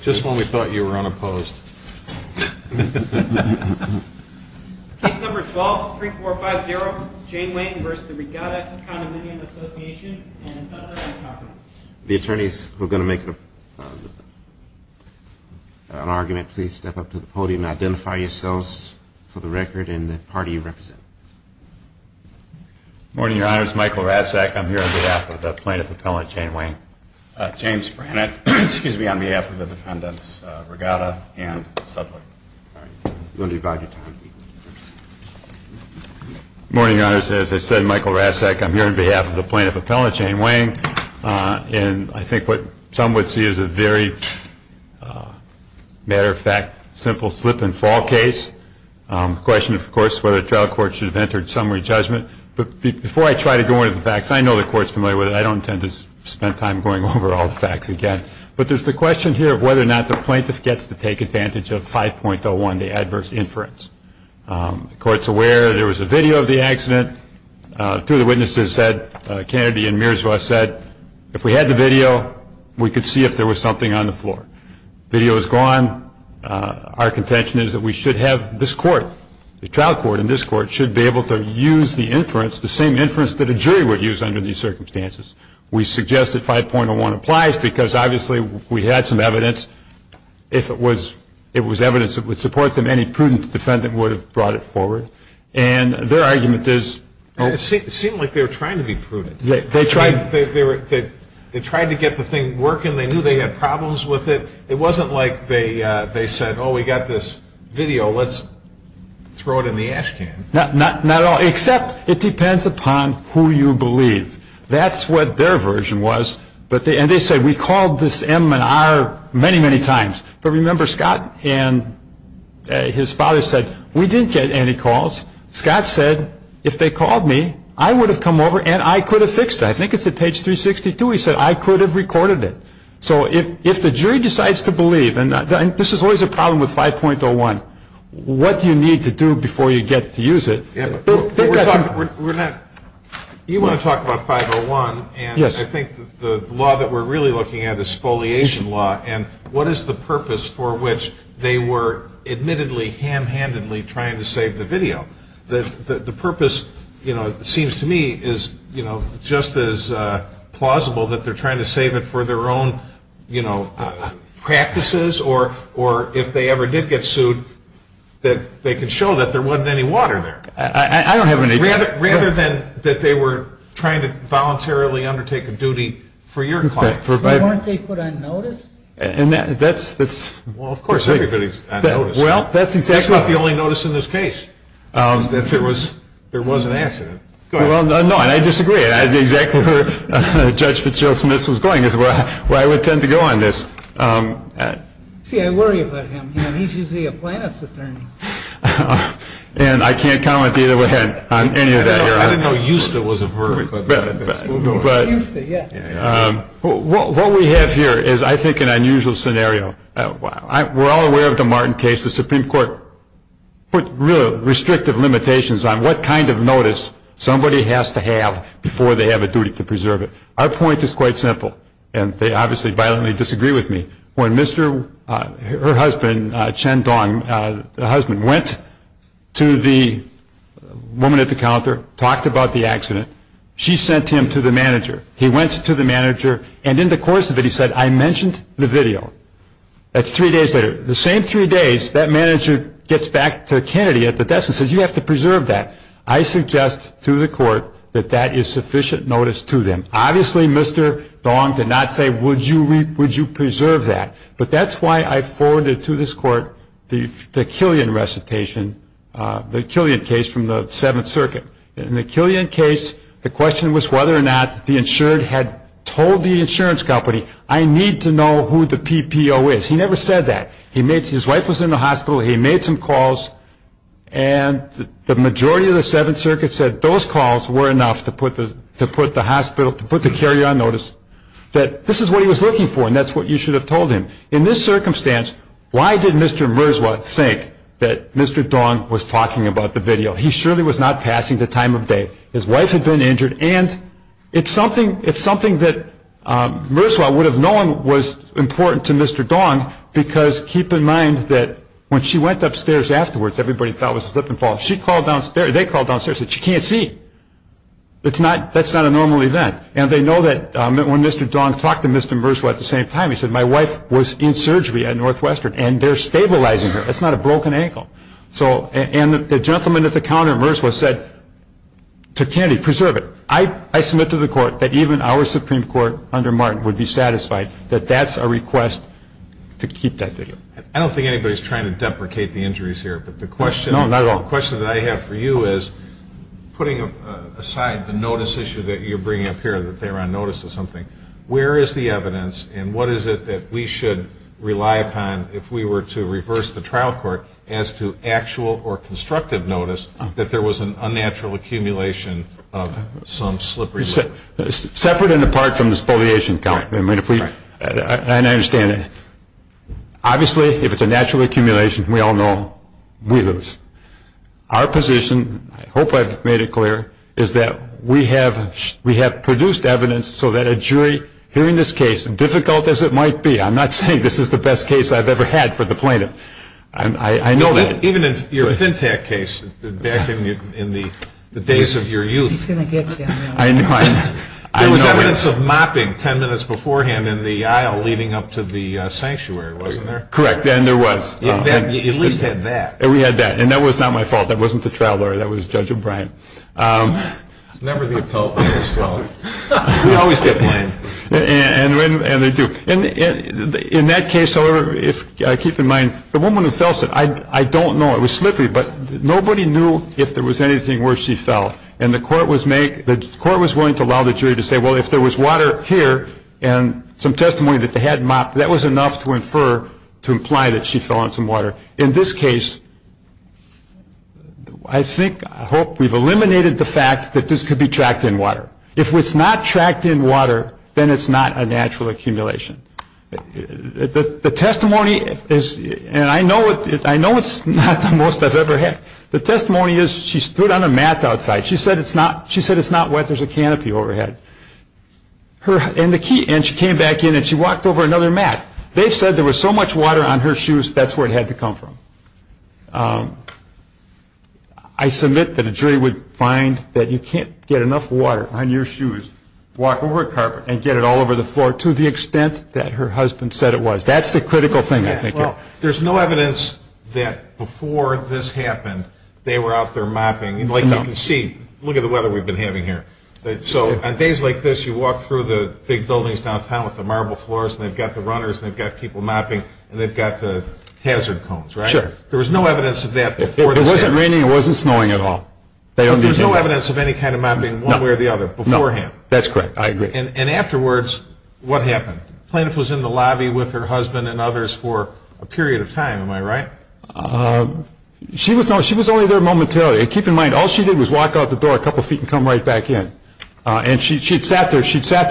Just when we thought you were unopposed. Case number 12-3450, Jane Wayne v. the Regatta Condominium Association, and it's unheard of and incompetent. The attorneys who are going to make an argument, please step up to the podium and identify yourselves for the record and the party you represent. Good morning, Your Honors. Michael Razzak. I'm here on behalf of the plaintiff appellant, Jane Wayne. And I think what some would see is a very matter-of-fact, simple slip-and-fall case. The question, of course, is whether a trial court should have entered summary judgment. But before I try to go into the facts, I know the Court's familiar with it. I don't intend to spend time on it. I'm not going to spend time on it. I'm going over all the facts again. But there's the question here of whether or not the plaintiff gets to take advantage of 5.01, the adverse inference. The Court's aware there was a video of the accident. Two of the witnesses said, Kennedy and Mirzow said, if we had the video, we could see if there was something on the floor. The video is gone. Our contention is that we should have this court, the trial court in this court, should be able to use the inference, the same inference that a jury would use under these circumstances. We suggest that 5.01 applies because, obviously, we had some evidence. If it was evidence that would support them, any prudent defendant would have brought it forward. And their argument is... It seemed like they were trying to be prudent. They tried to get the thing working. They knew they had problems with it. It wasn't like they said, oh, we got this video. Let's throw it in the ash can. Not at all, except it depends upon who you believe. That's what their version was. And they said, we called this M&R many, many times. But remember, Scott and his father said, we didn't get any calls. Scott said, if they called me, I would have come over and I could have fixed it. I think it's at page 362. He said, I could have recorded it. So if the jury decides to believe, and this is always a problem with 5.01, what do you need to do before you get to use it? We're not... You want to talk about 5.01. And I think the law that we're really looking at is spoliation law. And what is the purpose for which they were admittedly, ham-handedly trying to save the video? The purpose seems to me is just as plausible that they're trying to save it for their own practices or if they ever did get sued, that they could show that there wasn't any water there. I don't have any... Rather than that they were trying to voluntarily undertake a duty for your client. Weren't they put on notice? And that's... Well, of course, everybody's on notice. Well, that's exactly... That's not the only notice in this case, is that there was an accident. Well, no, and I disagree. Exactly where Judge Fitzgerald Smith was going is where I would tend to go on this. See, I worry about him. He's usually a plaintiff's attorney. And I can't comment either way on any of that here. I didn't know EUSTA was a verb. EUSTA, yeah. What we have here is, I think, an unusual scenario. We're all aware of the Martin case. The Supreme Court put restrictive limitations on what kind of notice somebody has to have before they have a duty to preserve it. Our point is quite simple, and they obviously violently disagree with me. When her husband, Chen Dong, the husband, went to the woman at the counter, talked about the accident, she sent him to the manager. He went to the manager, and in the course of it he said, I mentioned the video. That's three days later. The same three days, that manager gets back to Kennedy at the desk and says, you have to preserve that. I suggest to the court that that is sufficient notice to them. Obviously, Mr. Dong did not say, would you preserve that? But that's why I forwarded to this court the Killian recitation, the Killian case from the Seventh Circuit. In the Killian case, the question was whether or not the insured had told the insurance company, I need to know who the PPO is. He never said that. His wife was in the hospital, he made some calls, and the majority of the Seventh Circuit said those calls were enough to put the hospital, to put the carrier on notice, that this is what he was looking for, and that's what you should have told him. In this circumstance, why did Mr. Mirzwa think that Mr. Dong was talking about the video? He surely was not passing the time of day. His wife had been injured, and it's something that Mirzwa would have known was important to Mr. Dong, because keep in mind that when she went upstairs afterwards, everybody thought it was a slip and fall. They called downstairs and said, she can't see. That's not a normal event. And they know that when Mr. Dong talked to Mr. Mirzwa at the same time, he said, my wife was in surgery at Northwestern, and they're stabilizing her. That's not a broken ankle. And the gentleman at the counter at Mirzwa said to Kennedy, preserve it. I submit to the court that even our Supreme Court under Martin would be satisfied that that's a request to keep that video. I don't think anybody's trying to deprecate the injuries here. No, not at all. But the question that I have for you is, putting aside the notice issue that you're bringing up here, that they're on notice of something, where is the evidence, and what is it that we should rely upon if we were to reverse the trial court as to actual or constructive notice that there was an unnatural accumulation of some slippery slip? Separate and apart from the spoliation count. Right. And I understand that. Obviously, if it's a natural accumulation, we all know, we lose. Our position, I hope I've made it clear, is that we have produced evidence so that a jury hearing this case, difficult as it might be, I'm not saying this is the best case I've ever had for the plaintiff. I know that. Even in your Fintech case back in the days of your youth. He's going to get you. I know. There was evidence of mopping ten minutes beforehand in the aisle leading up to the sanctuary, wasn't there? Correct. And there was. You at least had that. And we had that. And that was not my fault. That wasn't the trial lawyer. That was Judge O'Brien. It's never the appellant who's fault. We always get blamed. And they do. In that case, however, keep in mind, the woman who fell, I don't know, it was slippery, but nobody knew if there was anything where she fell. And the court was willing to allow the jury to say, well, if there was water here, and some testimony that they had mopped, that was enough to infer, to imply that she fell on some water. In this case, I think, I hope we've eliminated the fact that this could be tracked in water. If it's not tracked in water, then it's not a natural accumulation. The testimony is, and I know it's not the most I've ever had, the testimony is she stood on a mat outside. She said it's not wet, there's a canopy overhead. And she came back in and she walked over another mat. They said there was so much water on her shoes, that's where it had to come from. I submit that a jury would find that you can't get enough water on your shoes, walk over a carpet and get it all over the floor to the extent that her husband said it was. That's the critical thing, I think. Now, there's no evidence that before this happened, they were out there mopping. Like you can see, look at the weather we've been having here. So on days like this, you walk through the big buildings downtown with the marble floors, and they've got the runners and they've got people mopping, and they've got the hazard cones, right? Sure. There was no evidence of that before this happened. It wasn't raining, it wasn't snowing at all. There was no evidence of any kind of mopping one way or the other beforehand. That's correct, I agree. And afterwards, what happened? The plaintiff was in the lobby with her husband and others for a period of time, am I right? She was only there momentarily. Keep in mind, all she did was walk out the door a couple of feet and come right back in. And she'd sat there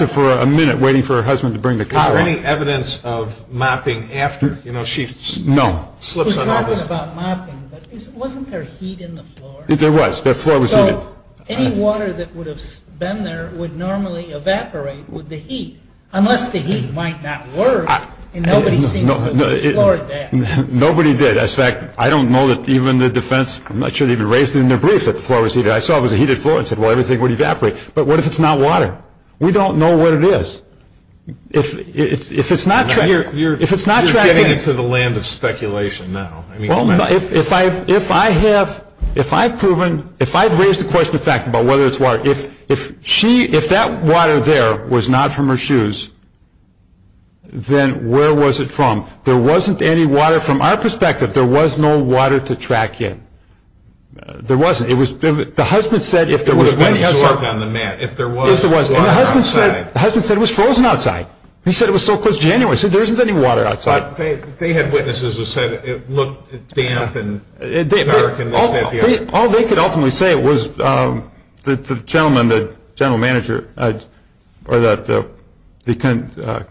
for a minute waiting for her husband to bring the car up. Was there any evidence of mopping after? No. We're talking about mopping, but wasn't there heat in the floor? There was, the floor was heated. Any water that would have been there would normally evaporate with the heat, unless the heat might not work, and nobody seems to have explored that. Nobody did. As a fact, I don't know that even the defense, I'm not sure they even raised it in their brief, that the floor was heated. I saw it was a heated floor and said, well, everything would evaporate. But what if it's not water? We don't know what it is. If it's not tracking. You're getting into the land of speculation now. If I have proven, if I've raised the question of fact about whether it's water, if that water there was not from her shoes, then where was it from? There wasn't any water from our perspective. There was no water to track in. There wasn't. The husband said if there was water outside. The husband said it was frozen outside. He said it was so close to January. He said there isn't any water outside. They had witnesses who said it looked damp and dark. All they could ultimately say was the gentleman, the general manager, or the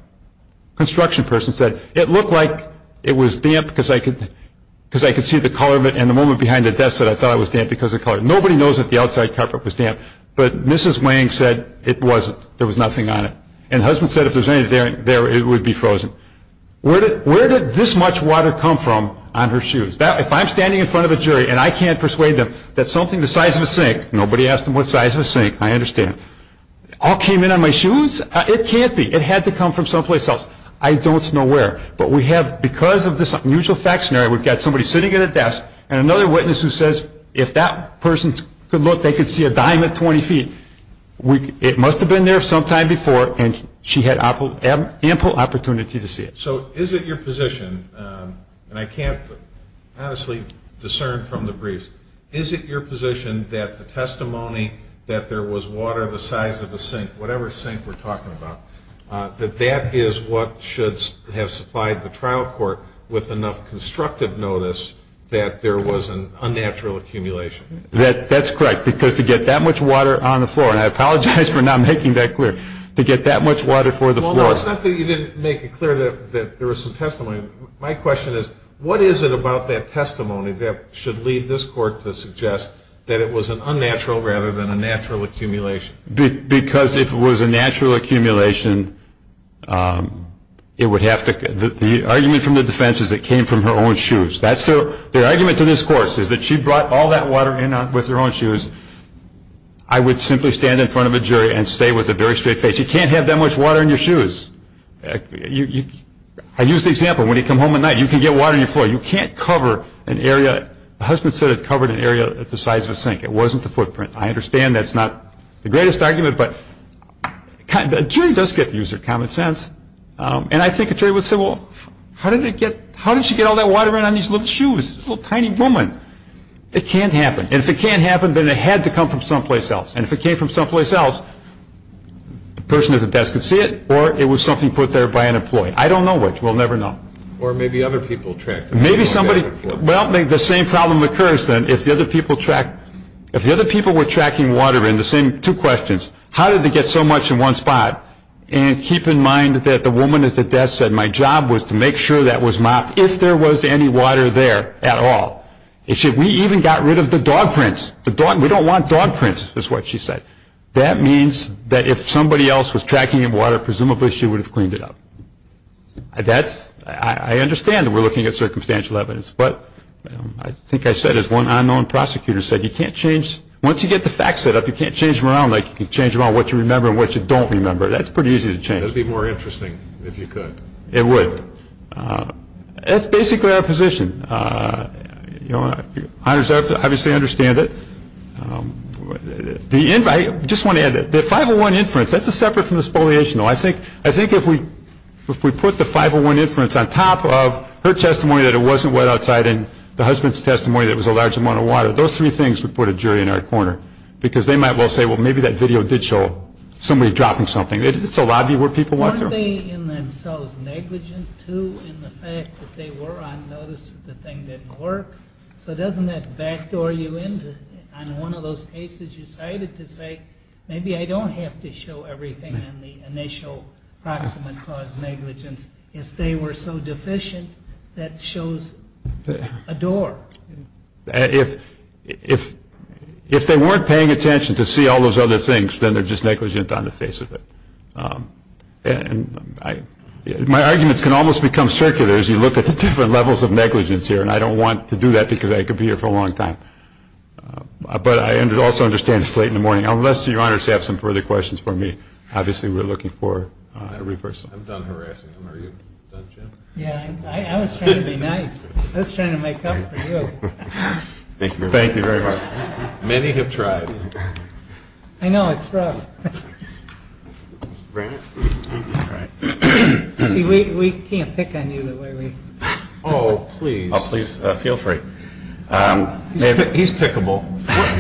construction person said it looked like it was damp because I could see the color of it, and the woman behind the desk said I thought it was damp because of the color. Nobody knows if the outside carpet was damp. But Mrs. Wang said it wasn't. There was nothing on it. And the husband said if there was anything there, it would be frozen. Where did this much water come from on her shoes? If I'm standing in front of a jury and I can't persuade them that something the size of a sink, nobody asked them what size of a sink, I understand, all came in on my shoes, it can't be. It had to come from someplace else. I don't know where. But we have, because of this unusual fact scenario, we've got somebody sitting at a desk and another witness who says if that person could look, they could see a dime at 20 feet. It must have been there sometime before, and she had ample opportunity to see it. So is it your position, and I can't honestly discern from the briefs, is it your position that the testimony that there was water the size of a sink, whatever sink we're talking about, that that is what should have supplied the trial court with enough constructive notice that there was an unnatural accumulation? That's correct. Because to get that much water on the floor, and I apologize for not making that clear, to get that much water for the floor. Well, it's not that you didn't make it clear that there was some testimony. My question is what is it about that testimony that should lead this court to suggest that it was an unnatural rather than a natural accumulation? Because if it was a natural accumulation, it would have to, the argument from the defense is it came from her own shoes. That's their argument to this court, is that she brought all that water in with her own shoes. I would simply stand in front of a jury and say with a very straight face, you can't have that much water in your shoes. I use the example, when you come home at night, you can get water on your floor. You can't cover an area, the husband said it covered an area the size of a sink. It wasn't the footprint. I understand that's not the greatest argument, but a jury does get to use their common sense, and I think a jury would say, well, how did she get all that water in on these little shoes? She's a little tiny woman. It can't happen, and if it can't happen, then it had to come from someplace else, and if it came from someplace else, the person at the desk could see it, or it was something put there by an employee. I don't know which. We'll never know. Or maybe other people tracked it. Maybe somebody, well, the same problem occurs then. If the other people were tracking water in, the same two questions, how did it get so much in one spot? And keep in mind that the woman at the desk said, my job was to make sure that was mopped if there was any water there at all. She said, we even got rid of the dog prints. We don't want dog prints, is what she said. That means that if somebody else was tracking the water, presumably she would have cleaned it up. I understand that we're looking at circumstantial evidence, but I think I said as one unknown prosecutor said, you can't change, once you get the facts set up, you can't change them around like you can change around what you remember and what you don't remember. That's pretty easy to change. That would be more interesting if you could. It would. That's basically our position. You know, obviously I understand it. I just want to add that the 501 inference, that's separate from the spoliation. I think if we put the 501 inference on top of her testimony that it wasn't wet outside and the husband's testimony that it was a large amount of water, those three things would put a jury in our corner because they might well say, well, maybe that video did show somebody dropping something. It's a lobby where people walk through. Weren't they in themselves negligent, too, in the fact that they were on notice that the thing didn't work? So doesn't that backdoor you into on one of those cases you cited to say, maybe I don't have to show everything on the initial proximate cause negligence if they were so deficient that shows a door? If they weren't paying attention to see all those other things, then they're just negligent on the face of it. My arguments can almost become circular as you look at the different levels of negligence here, and I don't want to do that because I could be here for a long time. But I also understand it's late in the morning. Unless, Your Honor, you have some further questions for me, obviously we're looking for a reversal. I'm done harassing him. Are you done, Jim? Yeah, I was trying to be nice. I was trying to make up for you. Thank you very much. Many have tried. I know, it's rough. See, we can't pick on you the way we do. Oh, please. Oh, please, feel free. He's pickable.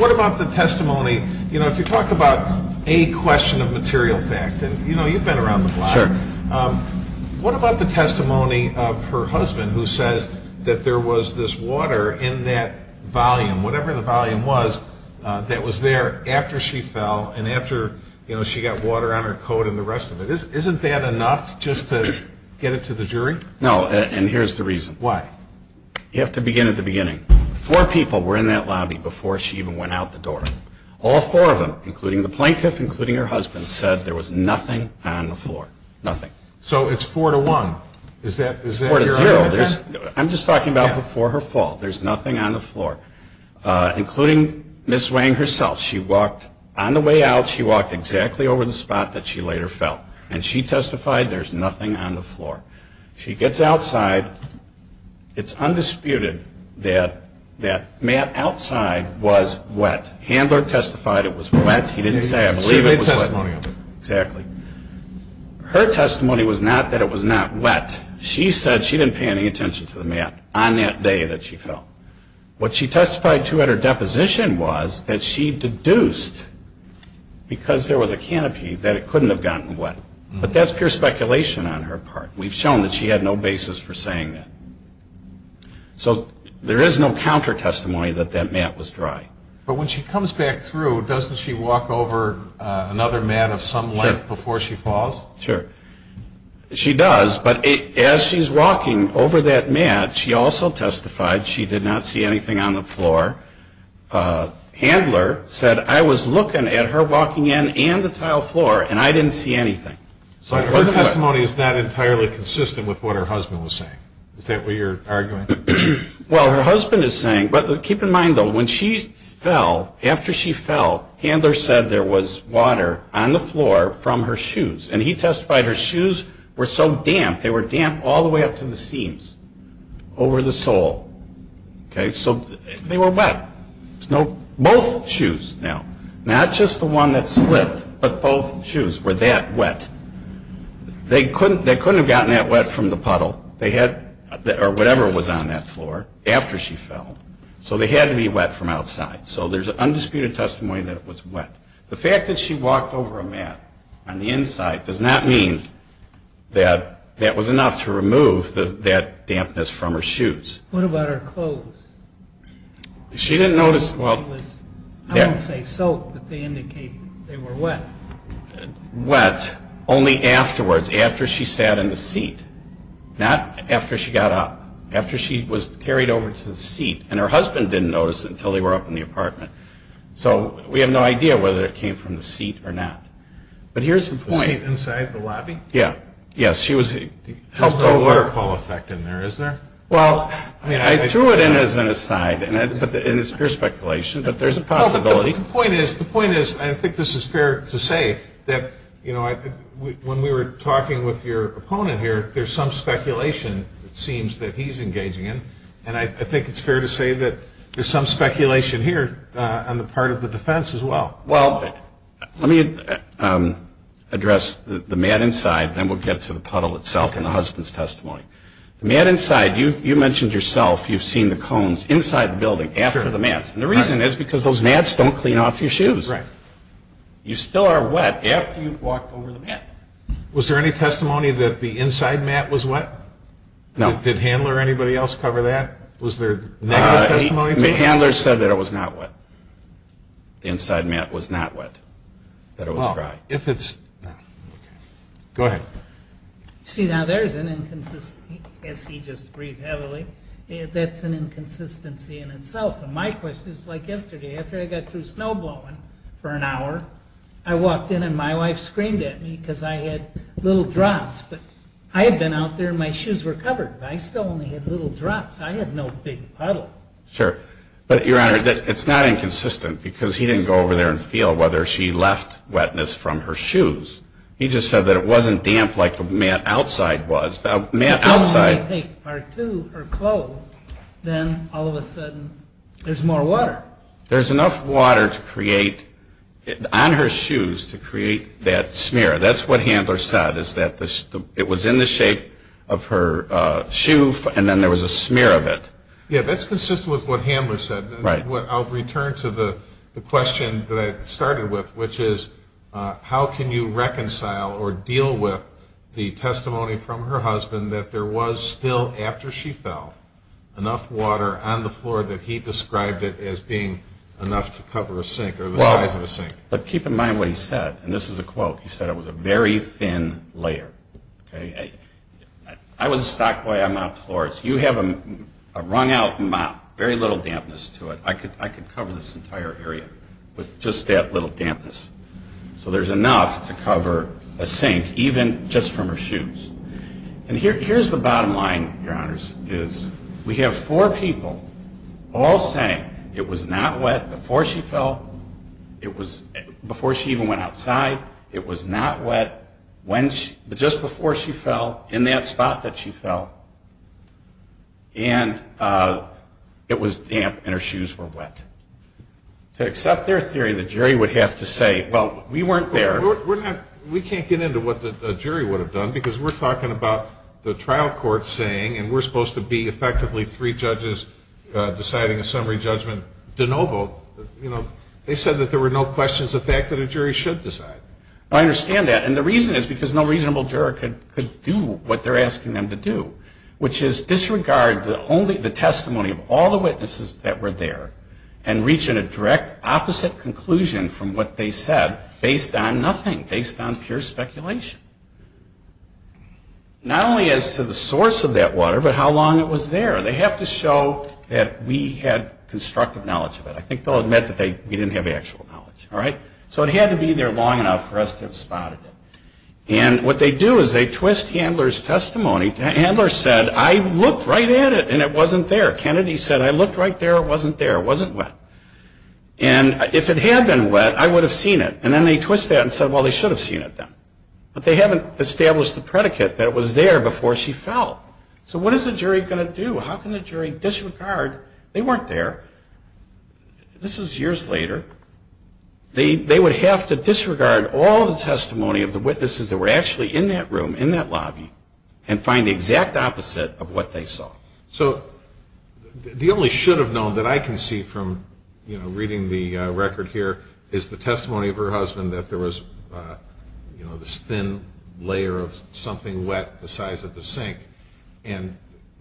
What about the testimony? You know, if you talk about a question of material fact, and, you know, you've been around the block. Sure. What about the testimony of her husband who says that there was this water in that volume, whatever the volume was, that was there after she fell and after, you know, she got water on her coat and the rest of it? Isn't that enough just to get it to the jury? No, and here's the reason. Why? You have to begin at the beginning. Four people were in that lobby before she even went out the door. All four of them, including the plaintiff, including her husband, said there was nothing on the floor, nothing. So it's four to one. Is that your idea? Four to zero. I'm just talking about before her fall. There's nothing on the floor, including Ms. Wang herself. She walked on the way out. She walked exactly over the spot that she later fell, and she testified there's nothing on the floor. She gets outside. It's undisputed that that mat outside was wet. Handler testified it was wet. He didn't say I believe it was wet. She made testimony of it. Exactly. Her testimony was not that it was not wet. She said she didn't pay any attention to the mat on that day that she fell. What she testified to at her deposition was that she deduced, because there was a canopy, that it couldn't have gotten wet. But that's pure speculation on her part. We've shown that she had no basis for saying that. So there is no counter-testimony that that mat was dry. But when she comes back through, doesn't she walk over another mat of some length before she falls? Sure. She does. But as she's walking over that mat, she also testified she did not see anything on the floor. Handler said, I was looking at her walking in and the tile floor, and I didn't see anything. So her testimony is not entirely consistent with what her husband was saying. Is that what you're arguing? Well, her husband is saying, but keep in mind, though, when she fell, after she fell, Handler said there was water on the floor from her shoes. And he testified her shoes were so damp, they were damp all the way up to the seams, over the sole. So they were wet. Both shoes, now, not just the one that slipped, but both shoes were that wet. They couldn't have gotten that wet from the puddle or whatever was on that floor after she fell. So they had to be wet from outside. So there's undisputed testimony that it was wet. The fact that she walked over a mat on the inside does not mean that that was enough to remove that dampness from her shoes. What about her clothes? She didn't notice. I wouldn't say soak, but they indicate they were wet. Wet only afterwards, after she sat in the seat, not after she got up. After she was carried over to the seat. And her husband didn't notice until they were up in the apartment. So we have no idea whether it came from the seat or not. But here's the point. The seat inside the lobby? Yeah. There's no waterfall effect in there, is there? I threw it in as an aside. And it's pure speculation, but there's a possibility. The point is, and I think this is fair to say, that when we were talking with your opponent here, there's some speculation, it seems, that he's engaging in. And I think it's fair to say that there's some speculation here on the part of the defense as well. Well, let me address the mat inside. Then we'll get to the puddle itself and the husband's testimony. The mat inside, you mentioned yourself, you've seen the cones inside the building after the mats. And the reason is because those mats don't clean off your shoes. Right. You still are wet after you've walked over the mat. Was there any testimony that the inside mat was wet? No. Did Handler or anybody else cover that? Was there negative testimony? Handler said that it was not wet. The inside mat was not wet. That it was dry. Well, if it's, no. Go ahead. See, now there's an inconsistency, as he just breathed heavily. That's an inconsistency in itself. And my question is like yesterday. After I got through snow blowing for an hour, I walked in and my wife screamed at me because I had little drops. But I had been out there and my shoes were covered, but I still only had little drops. I had no big puddle. Sure. But, Your Honor, it's not inconsistent because he didn't go over there and feel whether she left wetness from her shoes. He just said that it wasn't damp like the mat outside was. The mat outside. Because when I take her to her clothes, then all of a sudden there's more water. There's enough water to create, on her shoes, to create that smear. That's what Handler said, is that it was in the shape of her shoe and then there was a smear of it. Yeah, that's consistent with what Handler said. Right. I'll return to the question that I started with, which is how can you reconcile or deal with the testimony from her husband that there was still, after she fell, enough water on the floor that he described it as being enough to cover a sink or the size of a sink? Well, keep in mind what he said. And this is a quote. He said it was a very thin layer. I was a stock boy. I mopped floors. You have a wrung out mop, very little dampness to it. I could cover this entire area with just that little dampness. So there's enough to cover a sink, even just from her shoes. And here's the bottom line, Your Honors, is we have four people all saying it was not wet before she fell, before she even went outside. It was not wet just before she fell, in that spot that she fell. And it was damp and her shoes were wet. To accept their theory, the jury would have to say, well, we weren't there. We can't get into what the jury would have done because we're talking about the trial court saying, and we're supposed to be effectively three judges deciding a summary judgment de novo. They said that there were no questions of the fact that a jury should decide. I understand that. And the reason is because no reasonable juror could do what they're asking them to do, which is disregard the testimony of all the witnesses that were there and reach a direct opposite conclusion from what they said based on nothing, based on pure speculation. Not only as to the source of that water, but how long it was there. They have to show that we had constructive knowledge of it. I think they'll admit that we didn't have actual knowledge. So it had to be there long enough for us to have spotted it. And what they do is they twist Handler's testimony. Handler said, I looked right at it and it wasn't there. Kennedy said, I looked right there, it wasn't there, it wasn't wet. And if it had been wet, I would have seen it. And then they twist that and said, well, they should have seen it then. But they haven't established the predicate that it was there before she fell. So what is the jury going to do? How can the jury disregard, they weren't there. This is years later. They would have to disregard all the testimony of the witnesses that were actually in that room, in that lobby, and find the exact opposite of what they saw. So the only should have known that I can see from reading the record here is the testimony of her husband that there was this thin layer of something wet the size of the sink. And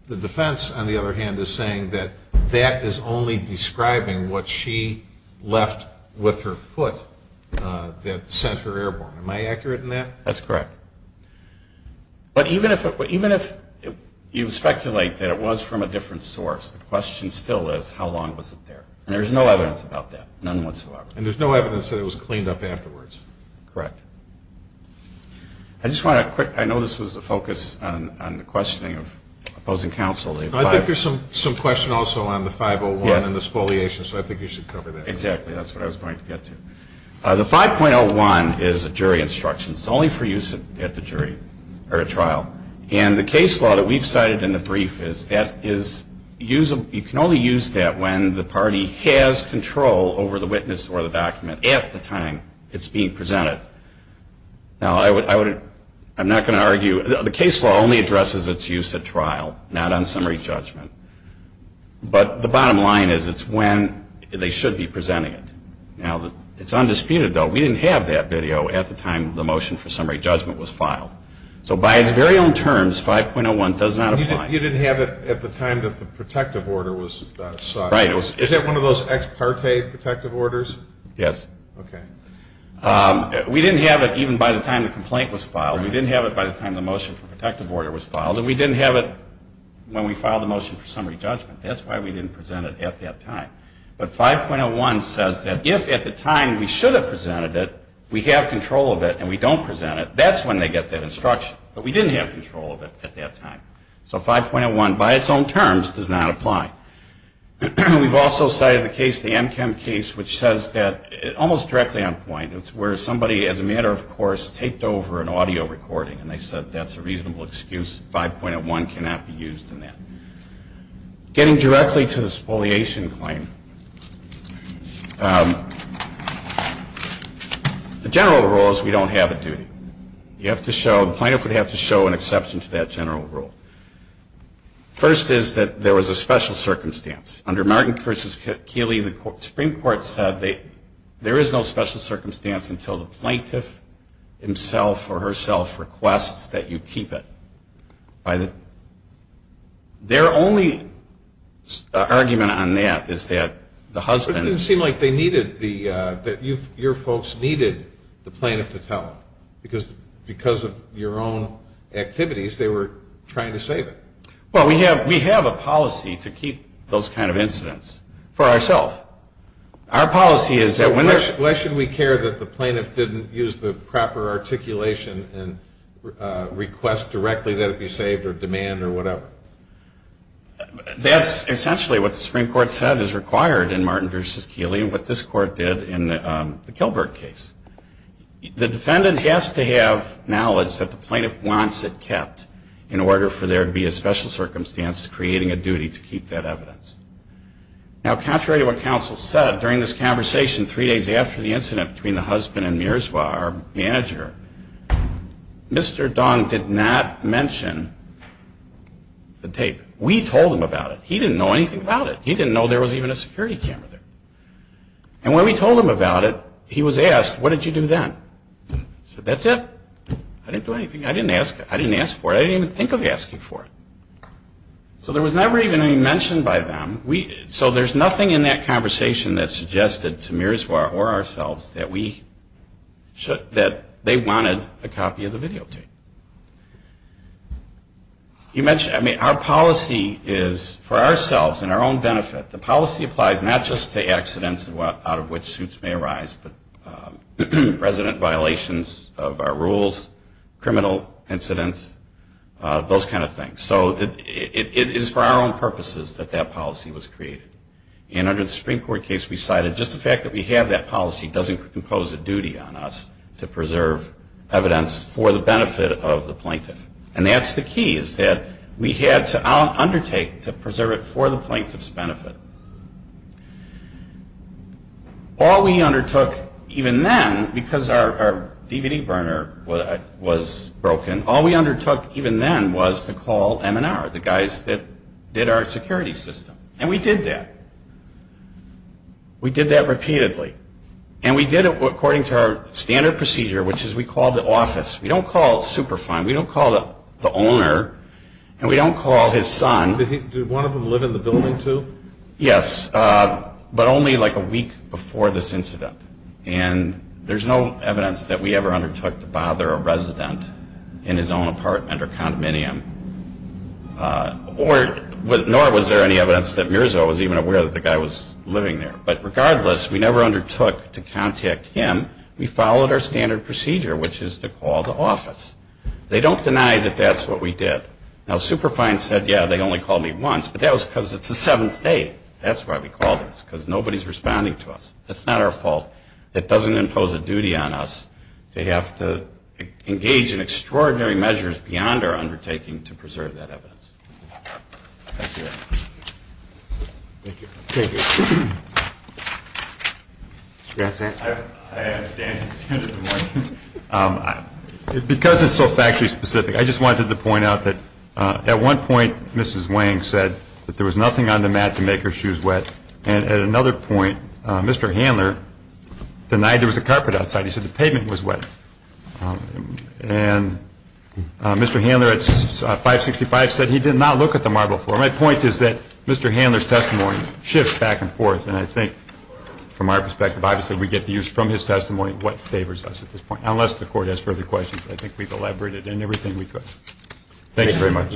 the defense, on the other hand, is saying that that is only describing what she left with her foot that sent her airborne. Am I accurate in that? That's correct. But even if you speculate that it was from a different source, the question still is, how long was it there? And there's no evidence about that, none whatsoever. And there's no evidence that it was cleaned up afterwards. Correct. I just want to quick, I know this was a focus on the questioning of opposing counsel. I think there's some question also on the 501 and the spoliation, so I think you should cover that. Exactly. That's what I was going to get to. The 5.01 is a jury instruction. It's only for use at the jury or at trial. And the case law that we've cited in the brief is that you can only use that when the party has control over the witness or the document at the time it's being presented. Now, I'm not going to argue, the case law only addresses its use at trial, not on summary judgment. But the bottom line is it's when they should be presenting it. Now, it's undisputed, though, we didn't have that video at the time the motion for summary judgment was filed. So by its very own terms, 5.01 does not apply. You didn't have it at the time that the protective order was cited. Right. Is that one of those ex parte protective orders? Yes. Okay. We didn't have it even by the time the complaint was filed. We didn't have it by the time the motion for protective order was filed. And we didn't have it when we filed the motion for summary judgment. That's why we didn't present it at that time. But 5.01 says that if at the time we should have presented it, we have control of it and we don't present it, that's when they get that instruction. But we didn't have control of it at that time. So 5.01, by its own terms, does not apply. We've also cited the case, the Amchem case, which says that almost directly on point, it's where somebody, as a matter of course, taped over an audio recording and they said that's a reasonable excuse. 5.01 cannot be used in that. Getting directly to the spoliation claim, the general rule is we don't have a duty. The plaintiff would have to show an exception to that general rule. First is that there was a special circumstance. Under Martin v. Keeley, the Supreme Court said there is no special circumstance until the plaintiff himself or herself requests that you keep it. It didn't seem like your folks needed the plaintiff to tell them. Because of your own activities, they were trying to save it. Well, we have a policy to keep those kind of incidents for ourselves. Why should we care that the plaintiff didn't use the proper articulation and request directly that it be saved or demand or whatever? That's essentially what the Supreme Court said is required in Martin v. Keeley and what this Court did in the Kilberg case. The defendant has to have knowledge that the plaintiff wants it kept in order for there to be a special circumstance creating a duty to keep that evidence. Now, contrary to what counsel said, during this conversation three days after the incident between the husband and Miroslav, our manager, Mr. Dong did not mention the tape. We told him about it. He didn't know anything about it. He didn't know there was even a security camera there. And when we told him about it, he was asked, what did you do then? I said, that's it. I didn't do anything. I didn't ask for it. I didn't even think of asking for it. So there was never even any mention by them. So there's nothing in that conversation that suggested to Miroslav or ourselves that they wanted a copy of the videotape. Our policy is for ourselves and our own benefit, the policy applies not just to accidents out of which suits may arise, but resident violations of our rules, criminal incidents, those kind of things. So it is for our own purposes that that policy was created. And under the Supreme Court case, we cited just the fact that we have that policy doesn't impose a duty on us to preserve evidence for the benefit of the plaintiff. And that's the key, is that we had to undertake to preserve it for the plaintiff's benefit. All we undertook even then, because our DVD burner was broken, all we undertook even then was to call M&R, the guys that did our security system. And we did that. We did that repeatedly. And we did it according to our standard procedure, which is we called the office. We don't call Superfund. We don't call the owner. And we don't call his son. Did one of them live in the building too? Yes, but only like a week before this incident. And there's no evidence that we ever undertook to bother a resident in his own apartment or condominium. Nor was there any evidence that Mirza was even aware that the guy was living there. But regardless, we never undertook to contact him. We followed our standard procedure, which is to call the office. They don't deny that that's what we did. Now, Superfund said, yeah, they only called me once, but that was because it's the seventh day. That's why we called them, because nobody's responding to us. It's not our fault. It doesn't impose a duty on us to have to engage in extraordinary measures beyond our undertaking to preserve that evidence. Thank you. Thank you. Mr. Gatzan. I understand. Because it's so factually specific, I just wanted to point out that at one point, Mrs. Wang said that there was nothing on the mat to make her shoes wet. And at another point, Mr. Handler denied there was a carpet outside. He said the pavement was wet. And Mr. Handler at 565 said he did not look at the marble floor. My point is that Mr. Handler's testimony shifts back and forth. And I think from our perspective, obviously, we get the use from his testimony of what favors us at this point. Unless the court has further questions, I think we've elaborated in everything we could. Thank you very much.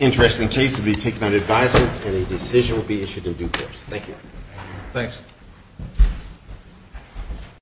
Interesting case to be taken on advisement, and a decision will be issued in due course. Thank you. Thanks.